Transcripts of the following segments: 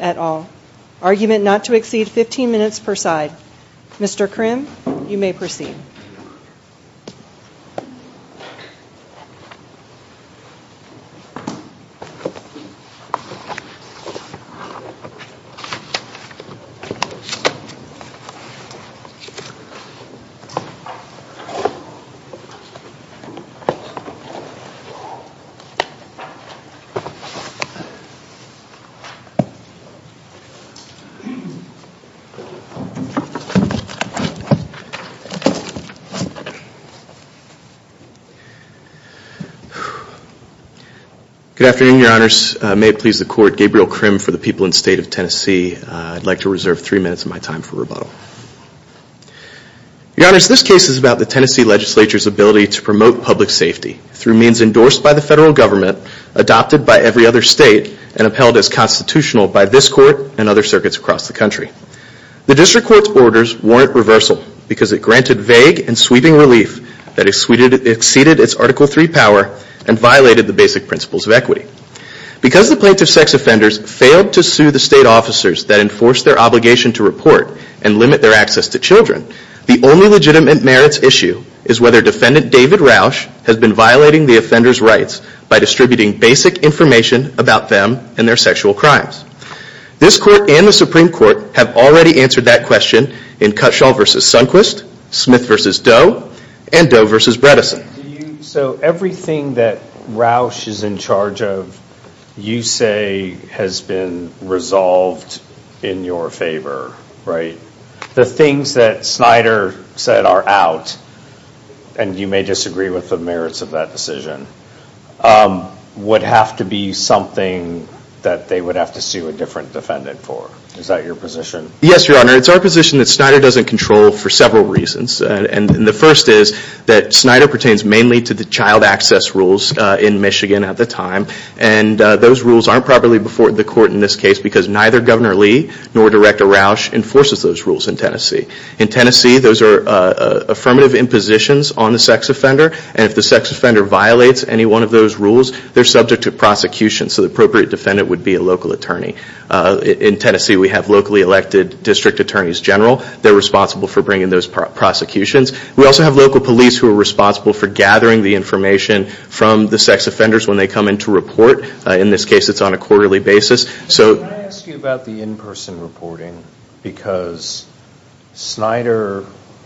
at all. Argument not to exceed 15 minutes per side. Mr. Crim, you may proceed. Good afternoon, Your Honors. May it please the Court, Gabriel Crim for the people in State of Tennessee. I'd like to reserve three minutes of my time for rebuttal. Your Honors, this case is about the Tennessee Legislature's ability to promote public safety through means endorsed by the federal government, adopted by every other state, and upheld as constitutional by this Court and other circuits across the country. The District Court's orders warrant reversal because it granted vague and sweeping relief that exceeded its Article III power and violated the basic principles of equity. Because the plaintiff's sex offenders failed to sue the state officers that enforced their obligation to report and limit their access to children, the only legitimate merits issue is whether Defendant David Roush has been violating the offender's rights by distributing basic information about them and their sexual crimes. This Court and the Supreme Court have already answered that question in Cutshall v. Sundquist, Smith v. Doe, and Doe v. Bredesen. So everything that Roush is in charge of, you say has been resolved in your favor, right? The things that Snyder said are out, and you may disagree with the merits of that decision, would have to be something that they would have to sue a different defendant for. Is that your position? Yes, Your Honor. It's our position that Snyder doesn't control for several reasons. And the first is that Snyder pertains mainly to the child access rules in Michigan at the time. And those rules aren't properly before the Court in this case because neither Governor Lee nor Director Roush enforces those rules in Tennessee. In Tennessee, those are affirmative impositions on the sex offender, and if the sex offender violates any one of those rules, they're subject to prosecution. So the appropriate defendant would be a local attorney. In Tennessee, we have locally elected District Attorneys General. They're responsible for bringing those prosecutions. We also have local police who are responsible for gathering the information from the sex offenders when they come in to report. In this case, it's on a quarterly basis. So... Can I ask you about the in-person reporting? Because Snyder,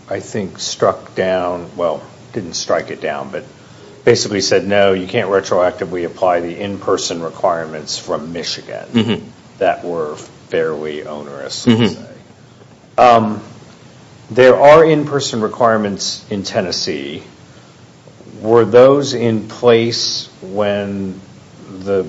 I think, struck down...well, didn't strike it down, but basically said, no, you can't retroactively apply the in-person requirements from Michigan that were fairly onerous. There are in-person requirements in Tennessee. Were those in place when the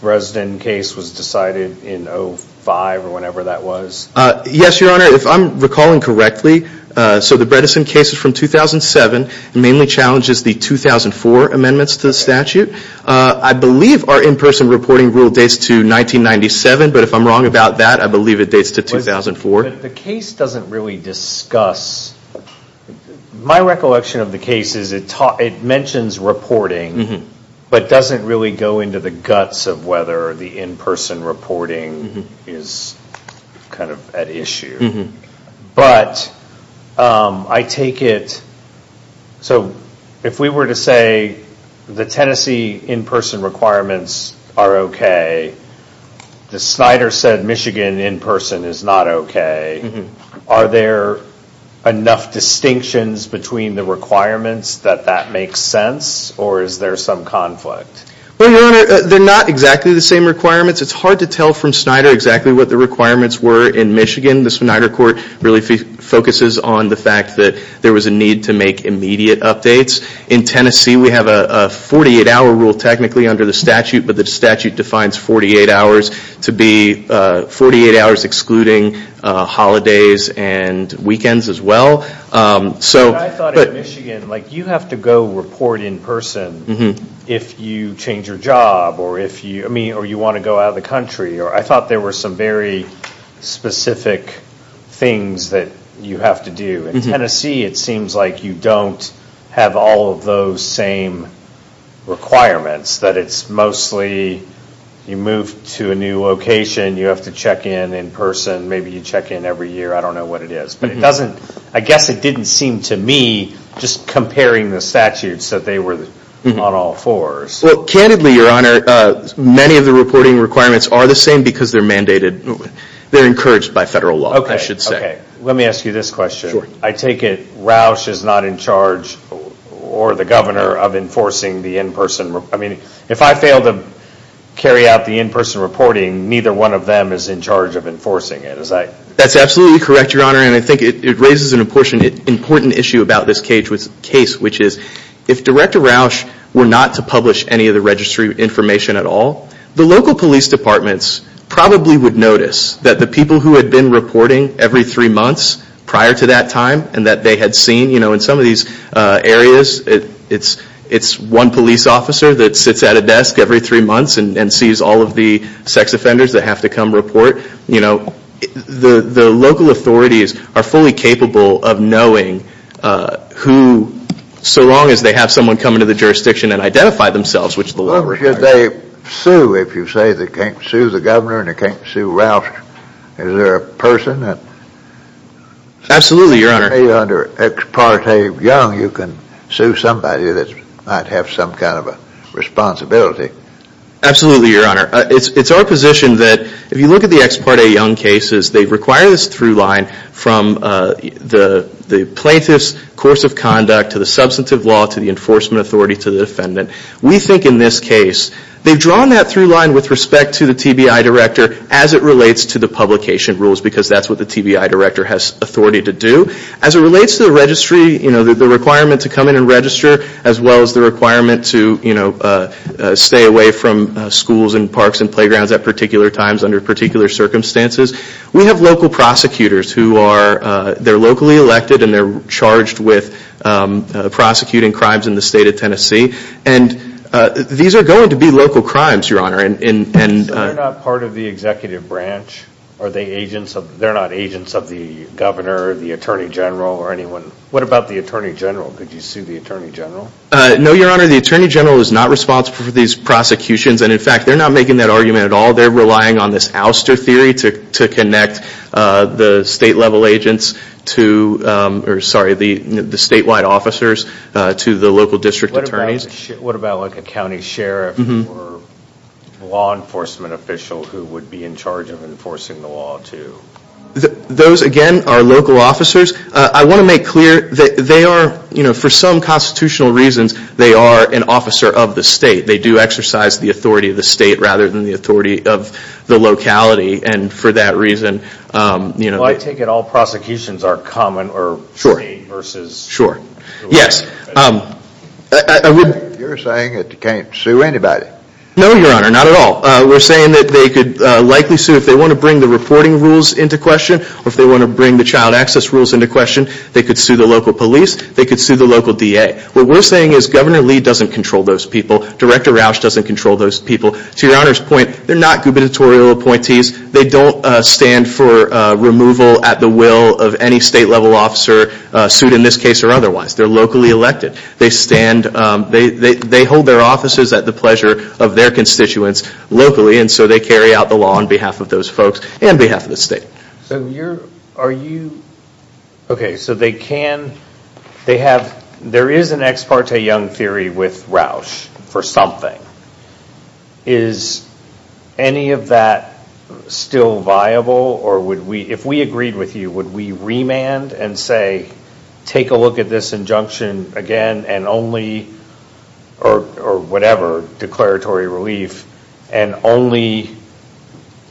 resident case was decided in 05 or whenever that was? Yes, Your Honor. If I'm recalling correctly, so the Bredesen case is from 2007. It mainly challenges the 2004 amendments to the statute. I believe our in-person reporting rule dates to 1997, but if I'm wrong about that, I believe it dates to 2004. The case doesn't really discuss...my recollection of the case is it mentions reporting, but doesn't really go into the guts of whether the in-person reporting is kind of at issue. But I take it...so if we were to say the Tennessee in-person requirements are okay, the Snyder said Michigan in-person is not okay. Are there enough distinctions between the requirements that that makes sense, or is there some conflict? Well, Your Honor, they're not exactly the same requirements. It's hard to tell from Snyder exactly what the requirements were in Michigan. The Snyder court really focuses on the fact that there was a need to make immediate updates. In Tennessee, we have a statute that defines 48 hours to be 48 hours excluding holidays and weekends as well. But I thought in Michigan, you have to go report in person if you change your job, or you want to go out of the country. I thought there were some very specific things that you have to do. In Tennessee, it seems like you don't have all of those same requirements, that it's mostly you move to a new location, you have to check in in person, maybe you check in every year, I don't know what it is. But it doesn't...I guess it didn't seem to me just comparing the statutes that they were on all fours. Well, candidly, Your Honor, many of the reporting requirements are the same because they're mandated...they're encouraged by federal law, I should say. Okay. Let me ask you this question. I take it Roush is not in charge or the governor of enforcing the in-person...I mean, if I fail to carry out the in-person reporting, neither one of them is in charge of enforcing it. That's absolutely correct, Your Honor, and I think it raises an important issue about this case, which is if Director Roush were not to publish any of the registry information at all, the local police departments probably would notice that the people who had been reporting every three months prior to that time, and that they had seen in some of these areas, it's one police officer that sits at a desk every three months and sees all of the sex offenders that have to come report. You know, the local authorities are fully capable of knowing who...so long as they have someone come into the jurisdiction and identify themselves, which the local... Well, if they sue, if you say they can't sue the governor and they can't sue Roush, is there a person that... Absolutely, Your Honor. If you put me under ex parte young, you can sue somebody that might have some kind of a responsibility. Absolutely, Your Honor. It's our position that if you look at the ex parte young cases, they require this through line from the plaintiff's course of conduct, to the substantive law, to the enforcement authority, to the defendant. We think in this case, they've drawn that through line with respect to the TBI director as it relates to the publication rules because that's what the TBI director has authority to do. As it relates to the registry, you know, the requirement to come in and register as well as the requirement to, you know, stay away from schools and parks and playgrounds at particular times under particular circumstances. We have local prosecutors who are...they're locally elected and they're charged with prosecuting crimes in the state of Tennessee. And these are going to be local crimes, Your Honor. So they're not part of the executive branch? Are they agents of...they're not agents of the governor, the attorney general, or anyone? What about the attorney general? Could you sue the attorney general? No, Your Honor. The attorney general is not responsible for these prosecutions. And in fact, they're not making that argument at all. They're relying on this ouster theory to connect the state level agents to...or sorry, the statewide officers to the local district attorneys. What about like a county sheriff or law enforcement official who would be in charge of enforcing the law too? Those again are local officers. I want to make clear that they are, you know, for some constitutional reasons, they are an officer of the state. They do exercise the authority of the state rather than the authority of the locality. And for that reason, you know... I take it all prosecutions are common or... Sure. ...versus... Sure. Yes. You're saying that you can't sue anybody? No, Your Honor. Not at all. We're saying that they could likely sue if they want to bring the reporting rules into question or if they want to bring the child access rules into question. They could sue the local police. They could sue the local DA. What we're saying is Governor Lee doesn't control those people. Director Rauch doesn't control those people. To Your Honor's point, they're not gubernatorial appointees. They don't stand for removal at the will of any state level officer, sued in this case or otherwise. They're locally elected. They hold their offices at the pleasure of their constituents locally and so they carry out the law on behalf of those folks and on behalf of the state. Okay. So you're... Are you... Okay. So they can... They have... There is an ex parte Young theory with Rauch for something. Is any of that still viable or would we... If we agreed with you, would we remand and say, take a look at this injunction again and only... Or whatever, declaratory relief and only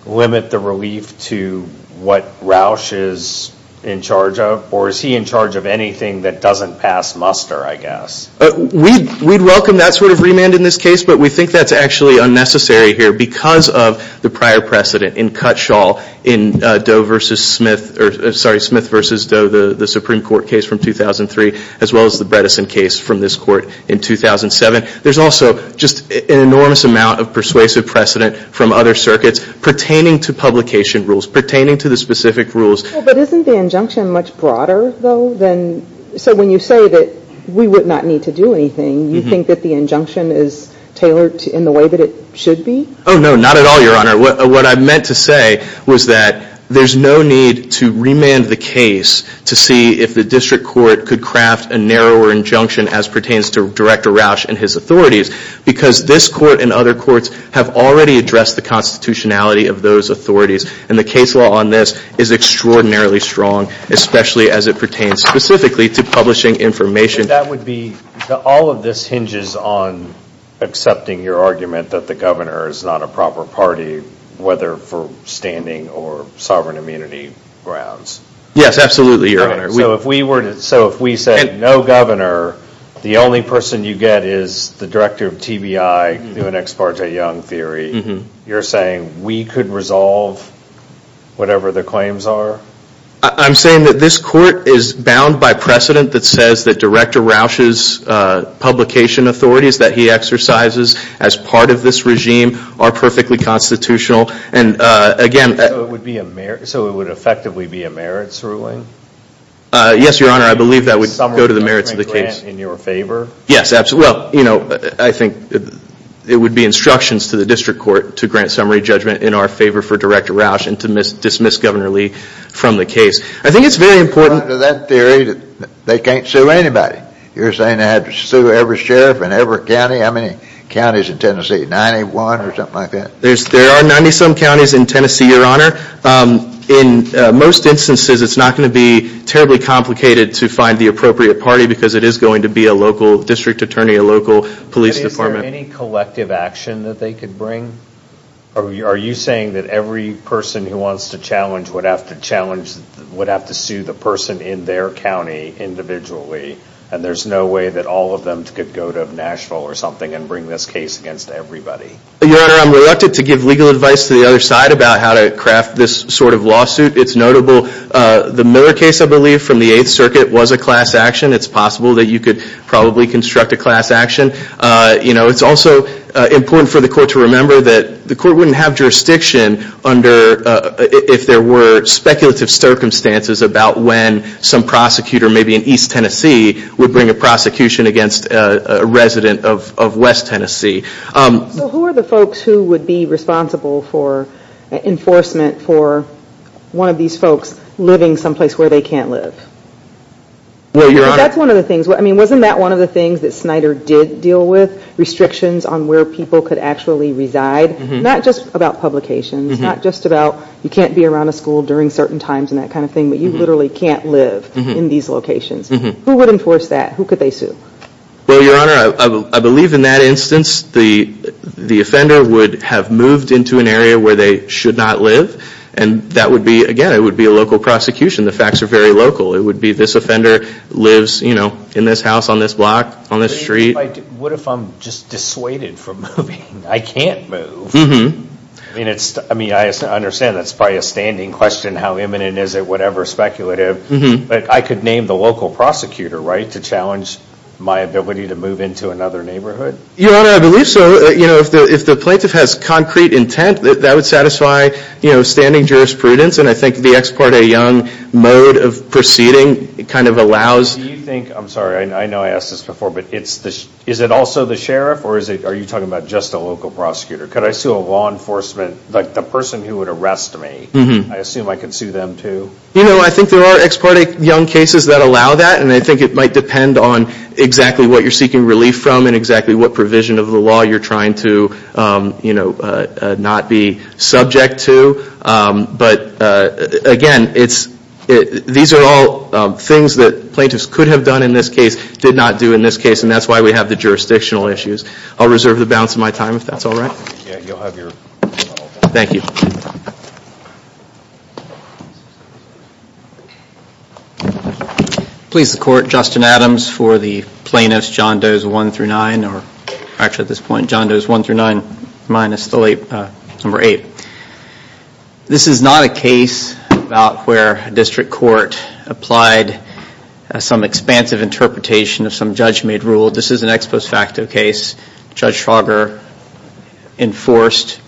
limit the relief to what Rauch is in charge of? Or is he in charge of anything that doesn't pass muster, I guess? We'd welcome that sort of remand in this case, but we think that's actually unnecessary here because of the prior precedent in Cutshall in Doe versus Smith... Sorry, Smith versus Doe, the Supreme Court case from 2003, as well as the Bredesen case from this court in 2007. There's also just an enormous amount of persuasive precedent from other circuits pertaining to publication rules, pertaining to the specific rules. But isn't the injunction much broader though than... So when you say that we would not need to do anything, you think that the injunction is tailored in the way that it should be? Oh no, not at all, Your Honor. What I meant to say was that there's no need to remand the case to see if the district court could craft a narrower injunction as pertains to Director Rauch and his authorities, because this court and other courts have already addressed the constitutionality of those authorities. And the case law on this is extraordinarily strong, especially as it pertains specifically to publishing information. That would be... All of this hinges on accepting your argument that the governor is not a proper authority grounds. Yes, absolutely, Your Honor. So if we said, no governor, the only person you get is the director of TBI doing ex parte young theory, you're saying we could resolve whatever the claims are? I'm saying that this court is bound by precedent that says that Director Rauch's publication authorities that he exercises as part of this regime are perfectly constitutional. And again... So it would effectively be a merits ruling? Yes, Your Honor, I believe that would go to the merits of the case. Summary judgment grant in your favor? Yes, absolutely. Well, you know, I think it would be instructions to the district court to grant summary judgment in our favor for Director Rauch and to dismiss Governor Lee from the case. I think it's very important... According to that theory, they can't sue anybody. You're saying they have to sue every sheriff in every county? How many counties in Tennessee? Ninety-one or something like that? There are ninety-some counties in Tennessee, Your Honor. In most instances, it's not going to be terribly complicated to find the appropriate party because it is going to be a local district attorney, a local police department. Is there any collective action that they could bring? Are you saying that every person who wants to challenge would have to sue the person in their county individually and there's no way that all of them could go to Nashville or something and bring this case against everybody? Your Honor, I'm reluctant to give legal advice to the other side about how to craft this sort of lawsuit. It's notable. The Miller case, I believe, from the Eighth Circuit was a class action. It's possible that you could probably construct a class action. You know, it's also important for the court to remember that the court wouldn't have jurisdiction under if there were speculative circumstances about when some prosecutor maybe in East Tennessee would bring a prosecution against a resident of West Tennessee. So who are the folks who would be responsible for enforcement for one of these folks living some place where they can't live? Well, Your Honor. That's one of the things. I mean, wasn't that one of the things that Snyder did deal with? Restrictions on where people could actually reside? Not just about publications. Not just about you can't be around a school during certain times and that kind of thing, but you literally can't live in these locations. Who would enforce that? Who could they sue? Well, Your Honor, I believe in that instance the offender would have moved into an area where they should not live and that would be, again, it would be a local prosecution. The facts are very local. It would be this offender lives, you know, in this house on this block, on this street. What if I'm just dissuaded from moving? I can't move. I mean, I understand that's probably a standing question, how imminent is it, whatever, speculative, but I could name the local prosecutor, right, to challenge my ability to move into another neighborhood? Your Honor, I believe so. You know, if the plaintiff has concrete intent, that would satisfy, you know, standing jurisprudence and I think the ex parte young mode of proceeding kind of allows... Do you think, I'm sorry, I know I asked this before, but is it also the sheriff or are you talking about just a local prosecutor? Could I sue a law enforcement, like the person who would arrest me? I assume I could sue them too? You know, I think there are ex parte young cases that allow that and I think it might depend on exactly what you're seeking relief from and exactly what provision of the law you're trying to, you know, not be subject to, but again, it's, these are all things that plaintiffs could have done in this case, did not do in this case and that's why we have the jurisdictional issues. I'll reserve the balance of my time if that's all right. Yeah, you'll have your... Thank you. Please support Justin Adams for the plaintiff's John Doe's 1-9, or actually at this point John Doe's 1-9 minus the late number 8. This is not a case about where a district court applied some expansive interpretation of some judge made rule. This is an ex post facto case. Judge Trauger enforced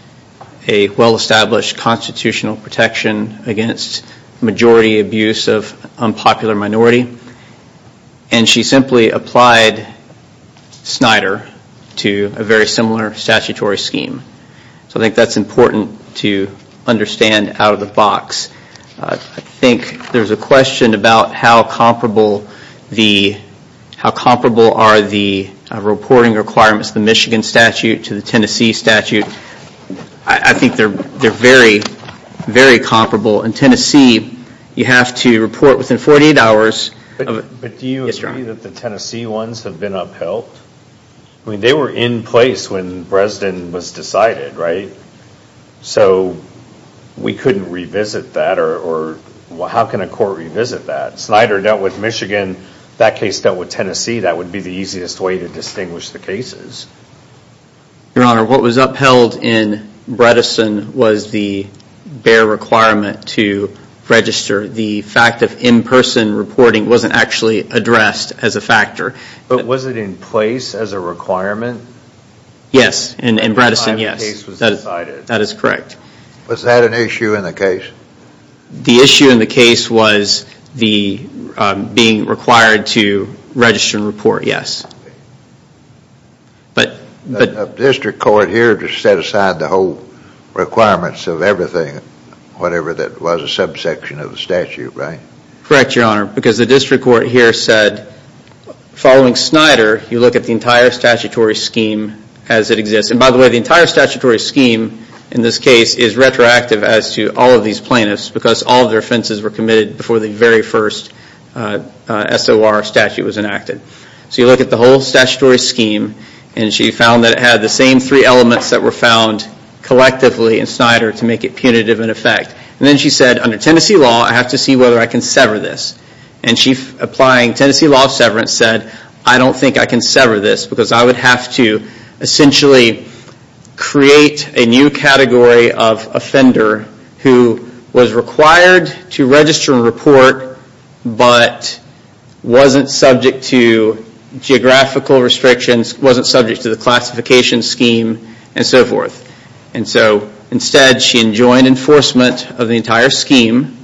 a well established constitutional protection against majority abuse of unpopular minority and she simply applied Snyder to a very similar statutory scheme. So I think that's important to understand out of the box. I think there's a question about how comparable the, how comparable are the reporting requirements, the Michigan statute to the Tennessee statute. I think they're very, very comparable. In Tennessee you have to report within 48 hours of... But do you agree that the Tennessee ones have been upheld? I mean they were in place when Bredesen was decided, right? So we couldn't revisit that or how can a court revisit that? Snyder dealt with Michigan, that case dealt with Tennessee, that would be the easiest way to distinguish the cases. Your Honor, what was upheld in Bredesen was the bare requirement to register. The fact of in-person reporting wasn't actually addressed as a factor. But was it in place as a requirement? Yes, in Bredesen, yes. That is correct. Was that an issue in the case? The issue in the case was the being required to register and report, yes. But... The district court here just set aside the whole requirements of everything, whatever that was a subsection of the statute, right? Correct, Your Honor, because the district court here said following Snyder, you look at the entire statutory scheme as it exists. And by the way, the entire statutory scheme in this case is retroactive as to all of these plaintiffs because all of their offenses were committed before the very first SOR statute was enacted. So you look at the whole statutory scheme and she found that it had the same three elements that were found collectively in Snyder to make it punitive in effect. And then she said, under Tennessee law, I have to see whether I can sever this. And she, applying Tennessee law severance, said I don't think I can sever this because I would have to essentially create a new category of offender who was required to register and report but wasn't subject to geographical restrictions, wasn't subject to the classification scheme, and so forth. And so, instead, she enjoined enforcement of the entire scheme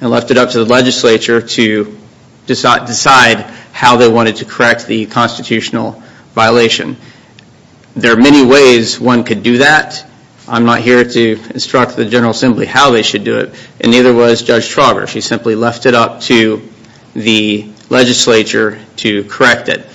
and left it up to the legislature to decide how they wanted to correct the constitutional violation. There are many ways one could do that. I'm not here to instruct the General Assembly how they should do it and neither was Judge Trauger. She simply left it up to the legislature to correct it.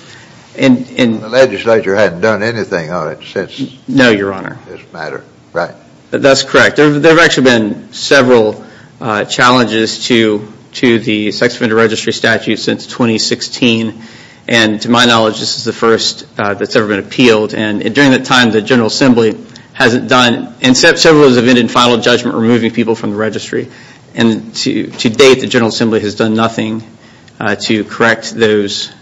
The legislature hadn't done anything on it since this matter, right? That's correct. There have actually been several challenges to the sex offender registry statute since 2016. And to my knowledge, this is the first that's ever been appealed. And during that time, the General Assembly hasn't done, and several of those have been in final judgment removing people from the registry. And to date, the General Assembly has done nothing to correct those,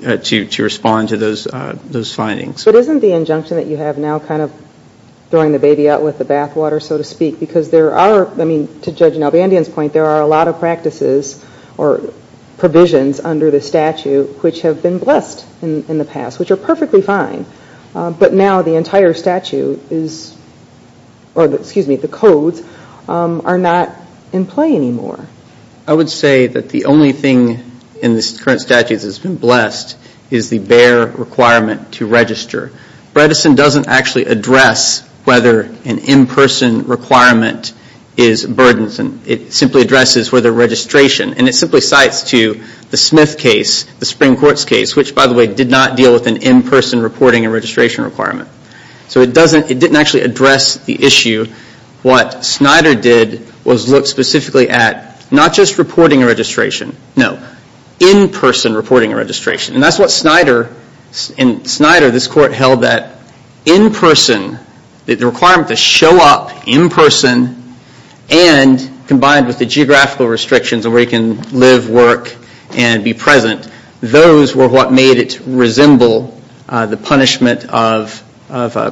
to respond to those findings. But isn't the injunction that you have now kind of throwing the baby out with the bathwater, so to speak, because there are, I mean, to Judge Nalbandian's point, there are a lot of practices or provisions under the statute which have been blessed in the past, which are perfectly fine. But now the entire statute is, or excuse me, the codes are not in play anymore. I would say that the only thing in the current statute that has been blessed is the prior requirement to register. Bredesen doesn't actually address whether an in-person requirement is burdensome. It simply addresses whether registration, and it simply cites to the Smith case, the Supreme Court's case, which, by the way, did not deal with an in-person reporting and registration requirement. So it doesn't, it didn't actually address the issue. What Snyder did was look specifically at not just reporting a registration, no, in-person reporting and registration. And that's what Snyder, in Snyder, this Court held that in-person, the requirement to show up in-person and combined with the geographical restrictions of where you can live, work, and be present, those were what made it resemble the punishment of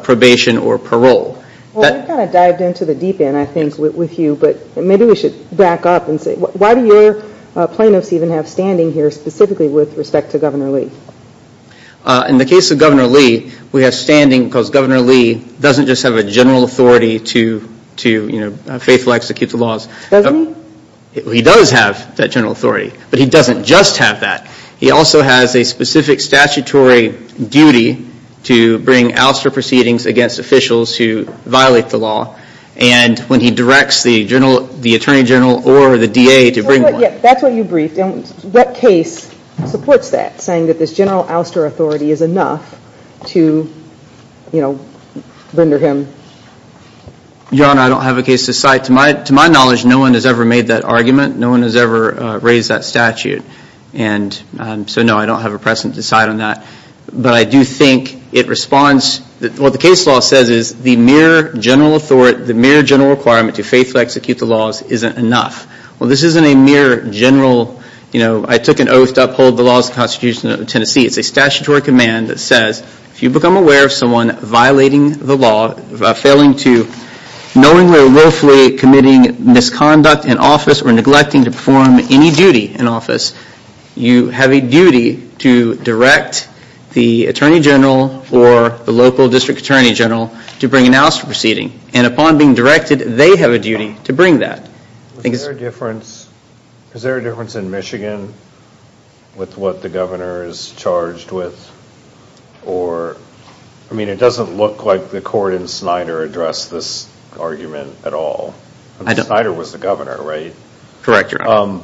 probation or parole. Well, we've kind of dived into the deep end, I think, with you, but maybe we should back up and say, why do your plaintiffs even have standing here specifically with respect to Governor Lee? In the case of Governor Lee, we have standing because Governor Lee doesn't just have a general authority to, you know, faithfully execute the laws. Does he? He does have that general authority, but he doesn't just have that. He also has a specific statutory duty to bring ouster proceedings against officials who violate the law. And when he directs the Attorney General or the DA to bring... That's what you briefed. What case supports that, saying that this general ouster authority is enough to, you know, render him... Your Honor, I don't have a case to cite. To my knowledge, no one has ever made that argument. No one has ever raised that statute. And so, no, I don't have a precedent to cite on that. But I do think it responds... What the case law says is the mere general authority, the mere general requirement to faithfully execute the laws isn't enough. Well, this isn't a mere general, you know, I took an oath to uphold the laws of the Constitution of Tennessee. It's a statutory command that says, if you become aware of someone violating the law, failing to knowingly or willfully committing misconduct in office or neglecting to perform any duty in office, you have a duty to direct the Attorney General or the local District Attorney General to bring an ouster proceeding. And upon being directed, they have a duty to bring that. Is there a difference... Is there a difference in Michigan with what the governor is charged with? Or... I mean, it doesn't look like the court in Snyder addressed this argument at all. Snyder was the governor, right? Correct, Your Honor.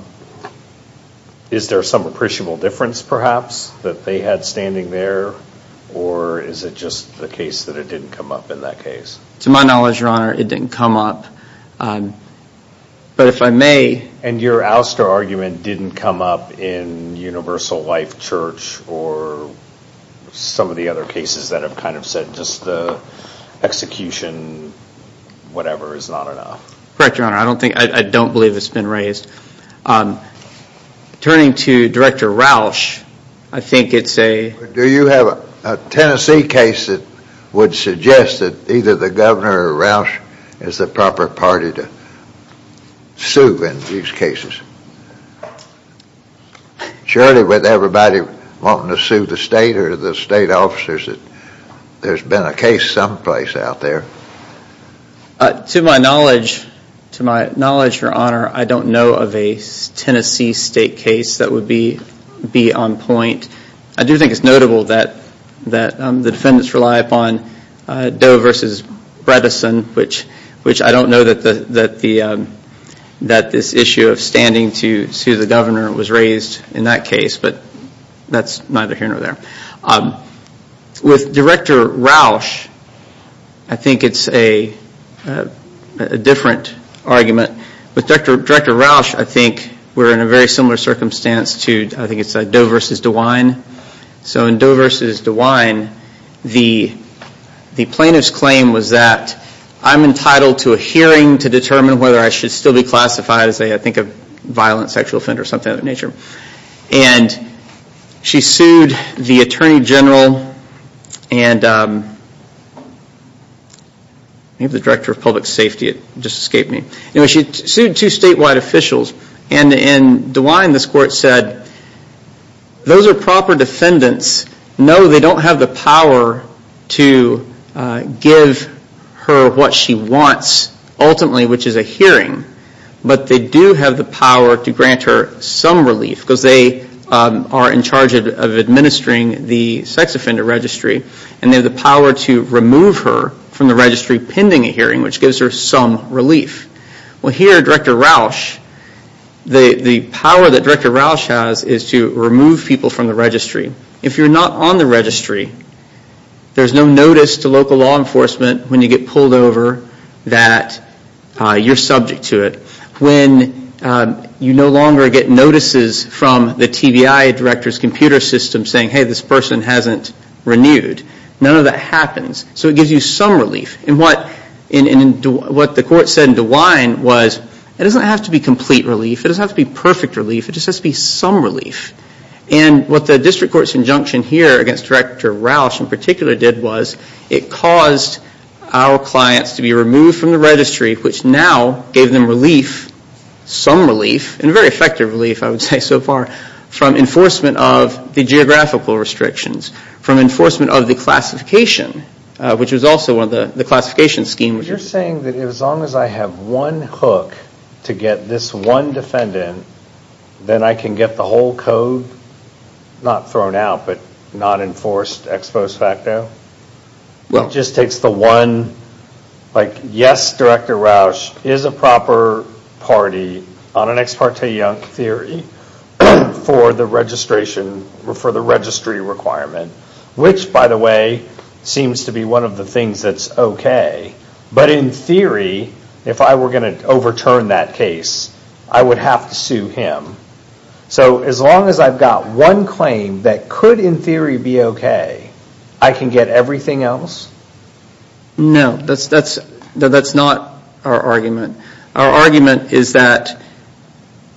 Is there some appreciable difference, perhaps, that they had standing there? Or is it just the case that it didn't come up in that case? To my knowledge, Your Honor, it didn't come up. But if I may... And your ouster argument didn't come up in Universal Life Church or some of the other cases that have kind of said, just the execution, whatever, is not enough. Correct, Your Honor. I don't believe it's been raised. Turning to Director Rausch, I think it's a... Do you have a Tennessee case that would suggest that either the governor or Rausch is the proper party to sue in these cases? Surely with everybody wanting to sue the state or the state officers, there's been a case someplace out there. To my knowledge, Your Honor, I don't know of a Tennessee state case that would be on point. I do think it's notable that the defendants rely upon Doe versus Bredesen, which I don't know that this issue of standing to sue the governor was raised in that case, but that's neither here nor there. With Director Rausch, I think it's a different argument. With Director Rausch, I think we're in a very similar circumstance to, I think it's Doe versus DeWine. So in Doe versus DeWine, the plaintiff's claim was that I'm entitled to a hearing to determine whether I should still be classified as a violent sexual offender or something of that nature. And she sued the Attorney General and maybe the Director of Public Safety, it just escaped me. She sued two statewide officials, and DeWine, this court said, those are proper defendants. No, they don't have the power to give her what she wants, ultimately, which is a hearing, but they do have the power to grant her some relief because they are in charge of administering the sex offender registry and they have the power to remove her from the registry pending a hearing, which gives her some relief. Well, here, Director Rausch, the power that Director Rausch has is to remove people from the registry. If you're not on the registry, there's no notice to local law enforcement when you get pulled over that you're subject to it. When you no longer get notices from the TBI director's computer system saying, hey, this person hasn't renewed, none of that happens. So it gives you some relief. And what the court said in DeWine was it doesn't have to be complete relief, it doesn't have to be perfect relief, it just has to be some relief. And what the district court's injunction here against Director Rausch in particular did was it caused our clients to be removed from the registry, which now gave them relief, some relief, and very effective relief, I would say, so far from enforcement of the geographical restrictions, from enforcement of the classification, which was also one of the classification schemes. You're saying that as long as I have one hook to get this one defendant, then I can get the whole code not thrown out, but not enforced ex post facto? It just takes the one, like, yes, Director Rausch is a proper party on an ex parte yunk theory for the registration, for the registry requirement, which, by the way, seems to be one of the things that's okay. But in theory, if I were going to overturn that case, I would have to sue him. So as long as I've got one claim that could in theory be okay, I can get everything else? No, that's not our argument. Our argument is that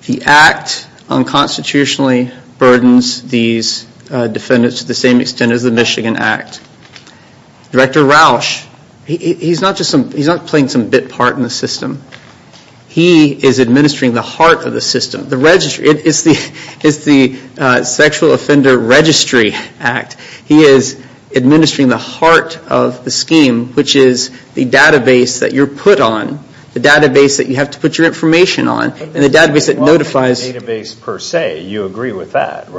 the Act unconstitutionally burdens these defendants to the same extent as the Michigan Act. Director Rausch, he's not playing some bit part in the system. He is administering the heart of the system. It's the Sexual Offender Registry Act. He is administering the heart of the scheme, which is the database that you're put on, the database that you have to put your information on, and the database that notifies...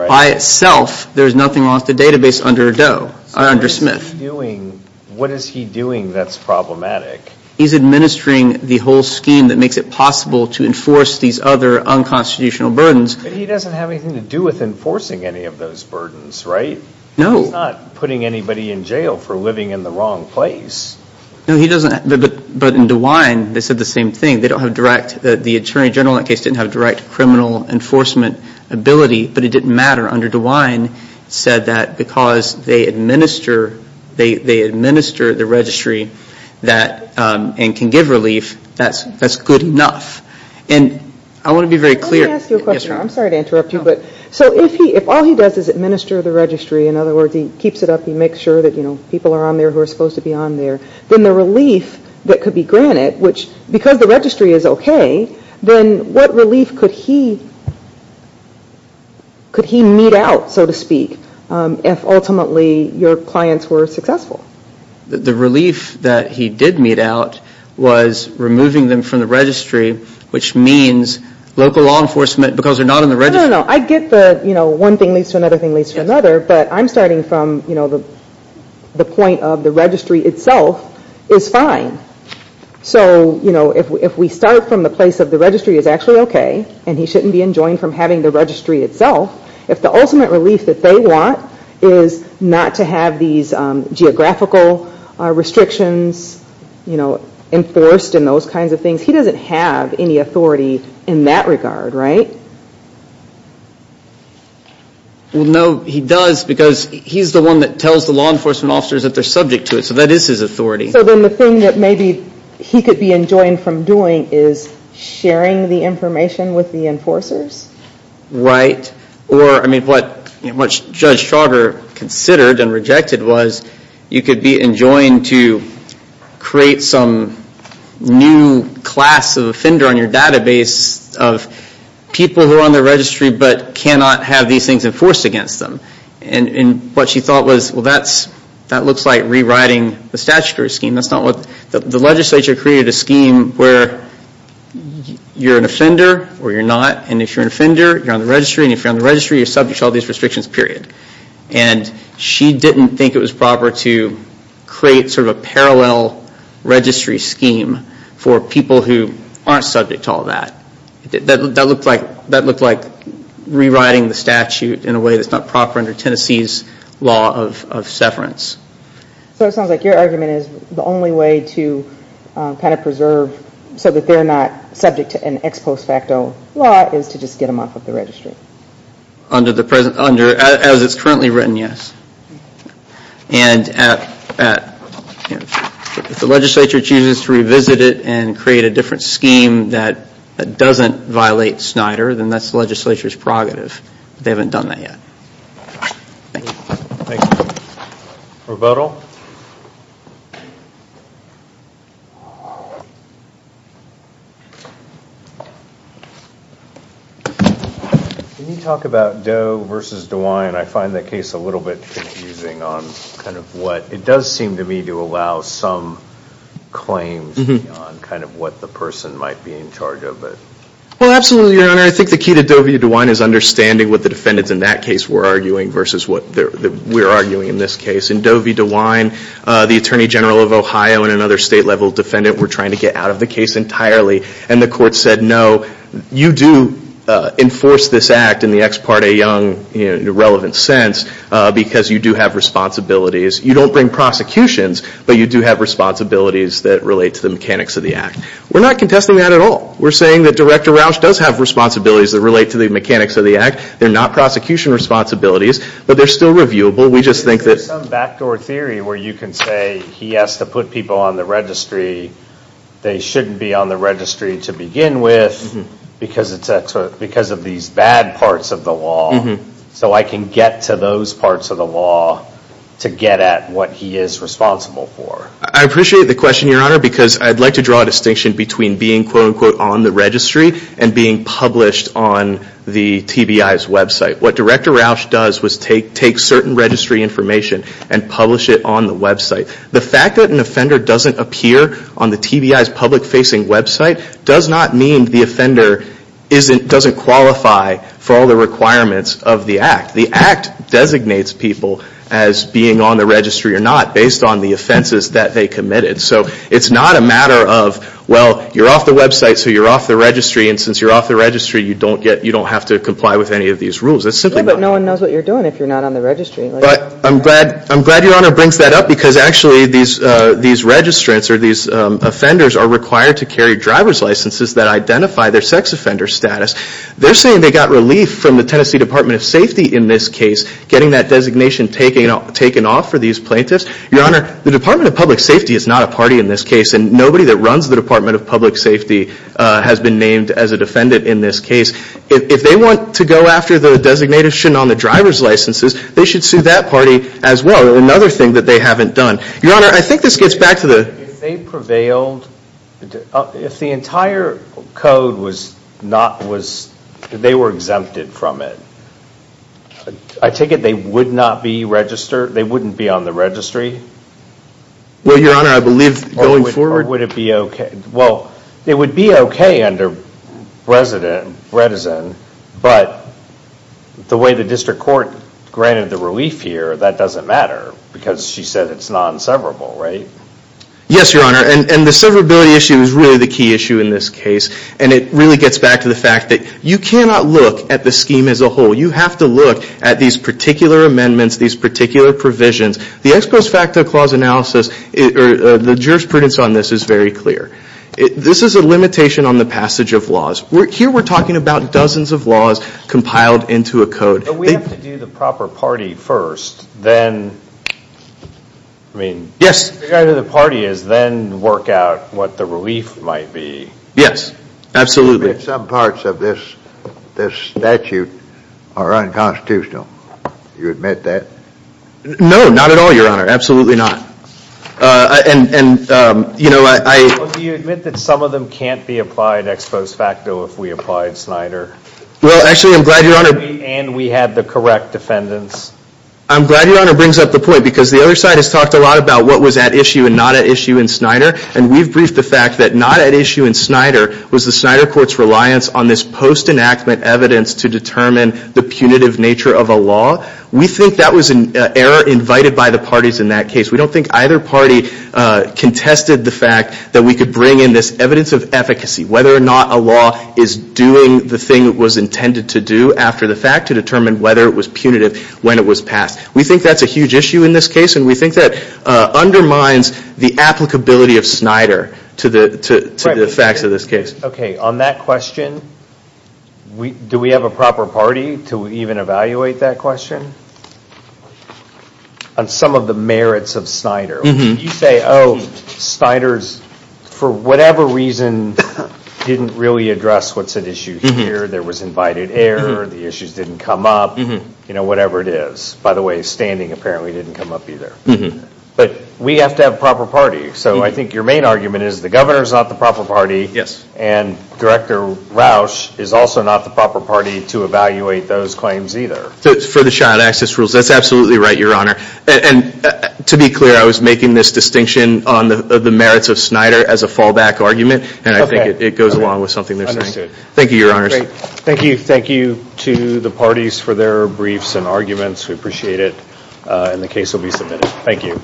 By itself, there's nothing wrong with the database under Smith. What is he doing that's problematic? He's administering the whole scheme that makes it possible to enforce these other unconstitutional burdens. He doesn't have anything to do with enforcing any of those burdens, right? No. He's not putting anybody in jail for living in the wrong place. But in DeWine, they said the same thing. The Attorney General in that case didn't have direct criminal enforcement ability, but it didn't matter. Under DeWine, it said that because they administer the registry and can give relief, that's good enough. And I want to be very clear... If all he does is administer the registry, in other words, he keeps it up, he makes sure that people are on there who are supposed to be on there, then the relief that could be granted, which because the registry is okay, then what relief could he meet out, so to speak, if ultimately your clients were successful? The relief that he did meet out was removing them from the registry, which means local law enforcement, because they're not on the registry... No, no, no. I get the one thing leads to another thing leads to another, but I'm starting from the point of the registry itself is fine. So if we start from the place of the registry is actually okay, and he shouldn't be enjoined from having the registry itself, if the ultimate relief that they want is not to have these geographical restrictions, you know, enforced and those kinds of things, he doesn't have any authority in that regard, right? Well, no, he does, because he's the one that tells the law enforcement officers that they're subject to it, so that is his authority. So then the thing that maybe he could be enjoined from doing is sharing the information with the enforcers? Right. Or, I mean, what Judge Trauger considered and rejected was you could be enjoined to create some new class of offender on your database of people who are on the registry but cannot have these things enforced against them. And what she thought was, well, that looks like rewriting the statutory scheme. The legislature created a scheme where you're an offender or you're not, and if you're an offender, you're on the registry, and if you're on the registry, you're subject to all these restrictions, period. And she didn't think it was proper to create sort of a parallel registry scheme for people who aren't subject to all that. That looked like rewriting the statute in a way that's not proper under Tennessee's law of severance. So it sounds like your argument is the only way to kind of preserve so that they're not subject to an ex post facto law is to just get them off of the registry? As it's currently written, yes. And if the legislature chooses to revisit it and create a different scheme that doesn't violate Snyder, then that's the legislature's prerogative. But they haven't done that yet. Thank you. Can you talk about Doe versus DeWine? I find that case a little bit confusing on kind of what it does seem to me to allow some claims on kind of what the person might be in charge of it. Well, absolutely, Your Honor. I think the key to Doe v. DeWine is understanding what the defendants in that case were arguing versus what we're arguing in this case. In Doe v. DeWine, the Attorney General of Ohio and another state level defendant were trying to get out of the case entirely, and the court said, no, you do enforce this act in the ex parte young relevant sense because you do have responsibilities. You don't bring prosecutions, but you do have responsibilities that relate to the mechanics of the act. We're not contesting that at all. We're saying that Director Rausch does have responsibilities that relate to the mechanics of the act. They're not prosecution responsibilities, but they're still reviewable. There's some backdoor theory where you can say he has to put people on the registry. They shouldn't be on the registry to begin with because of these bad parts of the law. So I can get to those parts of the law to get at what he is responsible for. I appreciate the question, Your Honor, because I'd like to draw a distinction between being, quote, unquote, on the registry and being published on the TBI's website. What Director Rausch does is take certain registry information and publish it on the website. The fact that an offender doesn't appear on the TBI's public-facing website does not mean the offender doesn't qualify for all the requirements of the act. The act designates people as being on the registry or not based on the offenses that they committed. So it's not a matter of, well, you're off the website, so you're off the registry. And since you're off the registry, you don't have to comply with any of these rules. It's simply not. But I'm glad Your Honor brings that up because actually these registrants or these offenders are required to carry driver's licenses that identify their sex offender status. They're saying they got relief from the Tennessee Department of Safety in this case, getting that designation taken off for these plaintiffs. Your Honor, the Department of Public Safety is not a party in this case, and nobody that runs the Department of Public Safety has been named as a defendant in this case. If they want to go after the designation on the driver's licenses, they should sue that party as well. Another thing that they haven't done. Your Honor, I think this gets back to the... If they prevailed, if the entire code was not, they were exempted from it, I take it they would not be registered, they wouldn't be on the registry? Well, Your Honor, I believe going forward... Well, it would be okay under Bredesen, but the way the district court granted the relief here, that doesn't matter because she said it's non-severable, right? Yes, Your Honor, and the severability issue is really the key issue in this case. And it really gets back to the fact that you cannot look at the scheme as a whole. You have to look at these particular amendments, these particular provisions. The ex post facto clause analysis, the jurisprudence on this is very clear. This is a limitation on the passage of laws. Here we're talking about dozens of laws compiled into a code. But we have to do the proper party first, then... Yes. I guess the idea of the party is then work out what the relief might be. Yes, absolutely. Some parts of this statute are unconstitutional. Do you admit that? No, not at all, Your Honor, absolutely not. Do you admit that some of them can't be applied ex post facto if we applied Snyder? Well, actually, I'm glad Your Honor... And we had the correct defendants. I'm glad Your Honor brings up the point because the other side has talked a lot about what was at issue and not at issue in Snyder. And we've briefed the fact that not at issue in Snyder was the Snyder court's reliance on this post enactment evidence to determine the punitive nature of a law. We think that was an error invited by the parties in that case. We don't think either party contested the fact that we could bring in this evidence of efficacy, whether or not a law is doing the thing it was intended to do after the fact to determine whether it was punitive when it was passed. We think that's a huge issue in this case and we think that undermines the applicability of Snyder to the facts of this case. Okay, on that question, do we have a proper party to even evaluate that question? On some of the merits of Snyder. You say, oh, Snyder's, for whatever reason, didn't really address what's at issue here. There was invited error. The issues didn't come up. You know, whatever it is. By the way, standing apparently didn't come up either. But we have to have a proper party. So I think your main argument is the governor's not the proper party and Director Rausch is also not the proper party to evaluate those claims either. For the child access rules, that's absolutely right, Your Honor. And to be clear, I was making this distinction on the merits of Snyder as a fallback argument. And I think it goes along with something they're saying. Thank you, Your Honor. Thank you.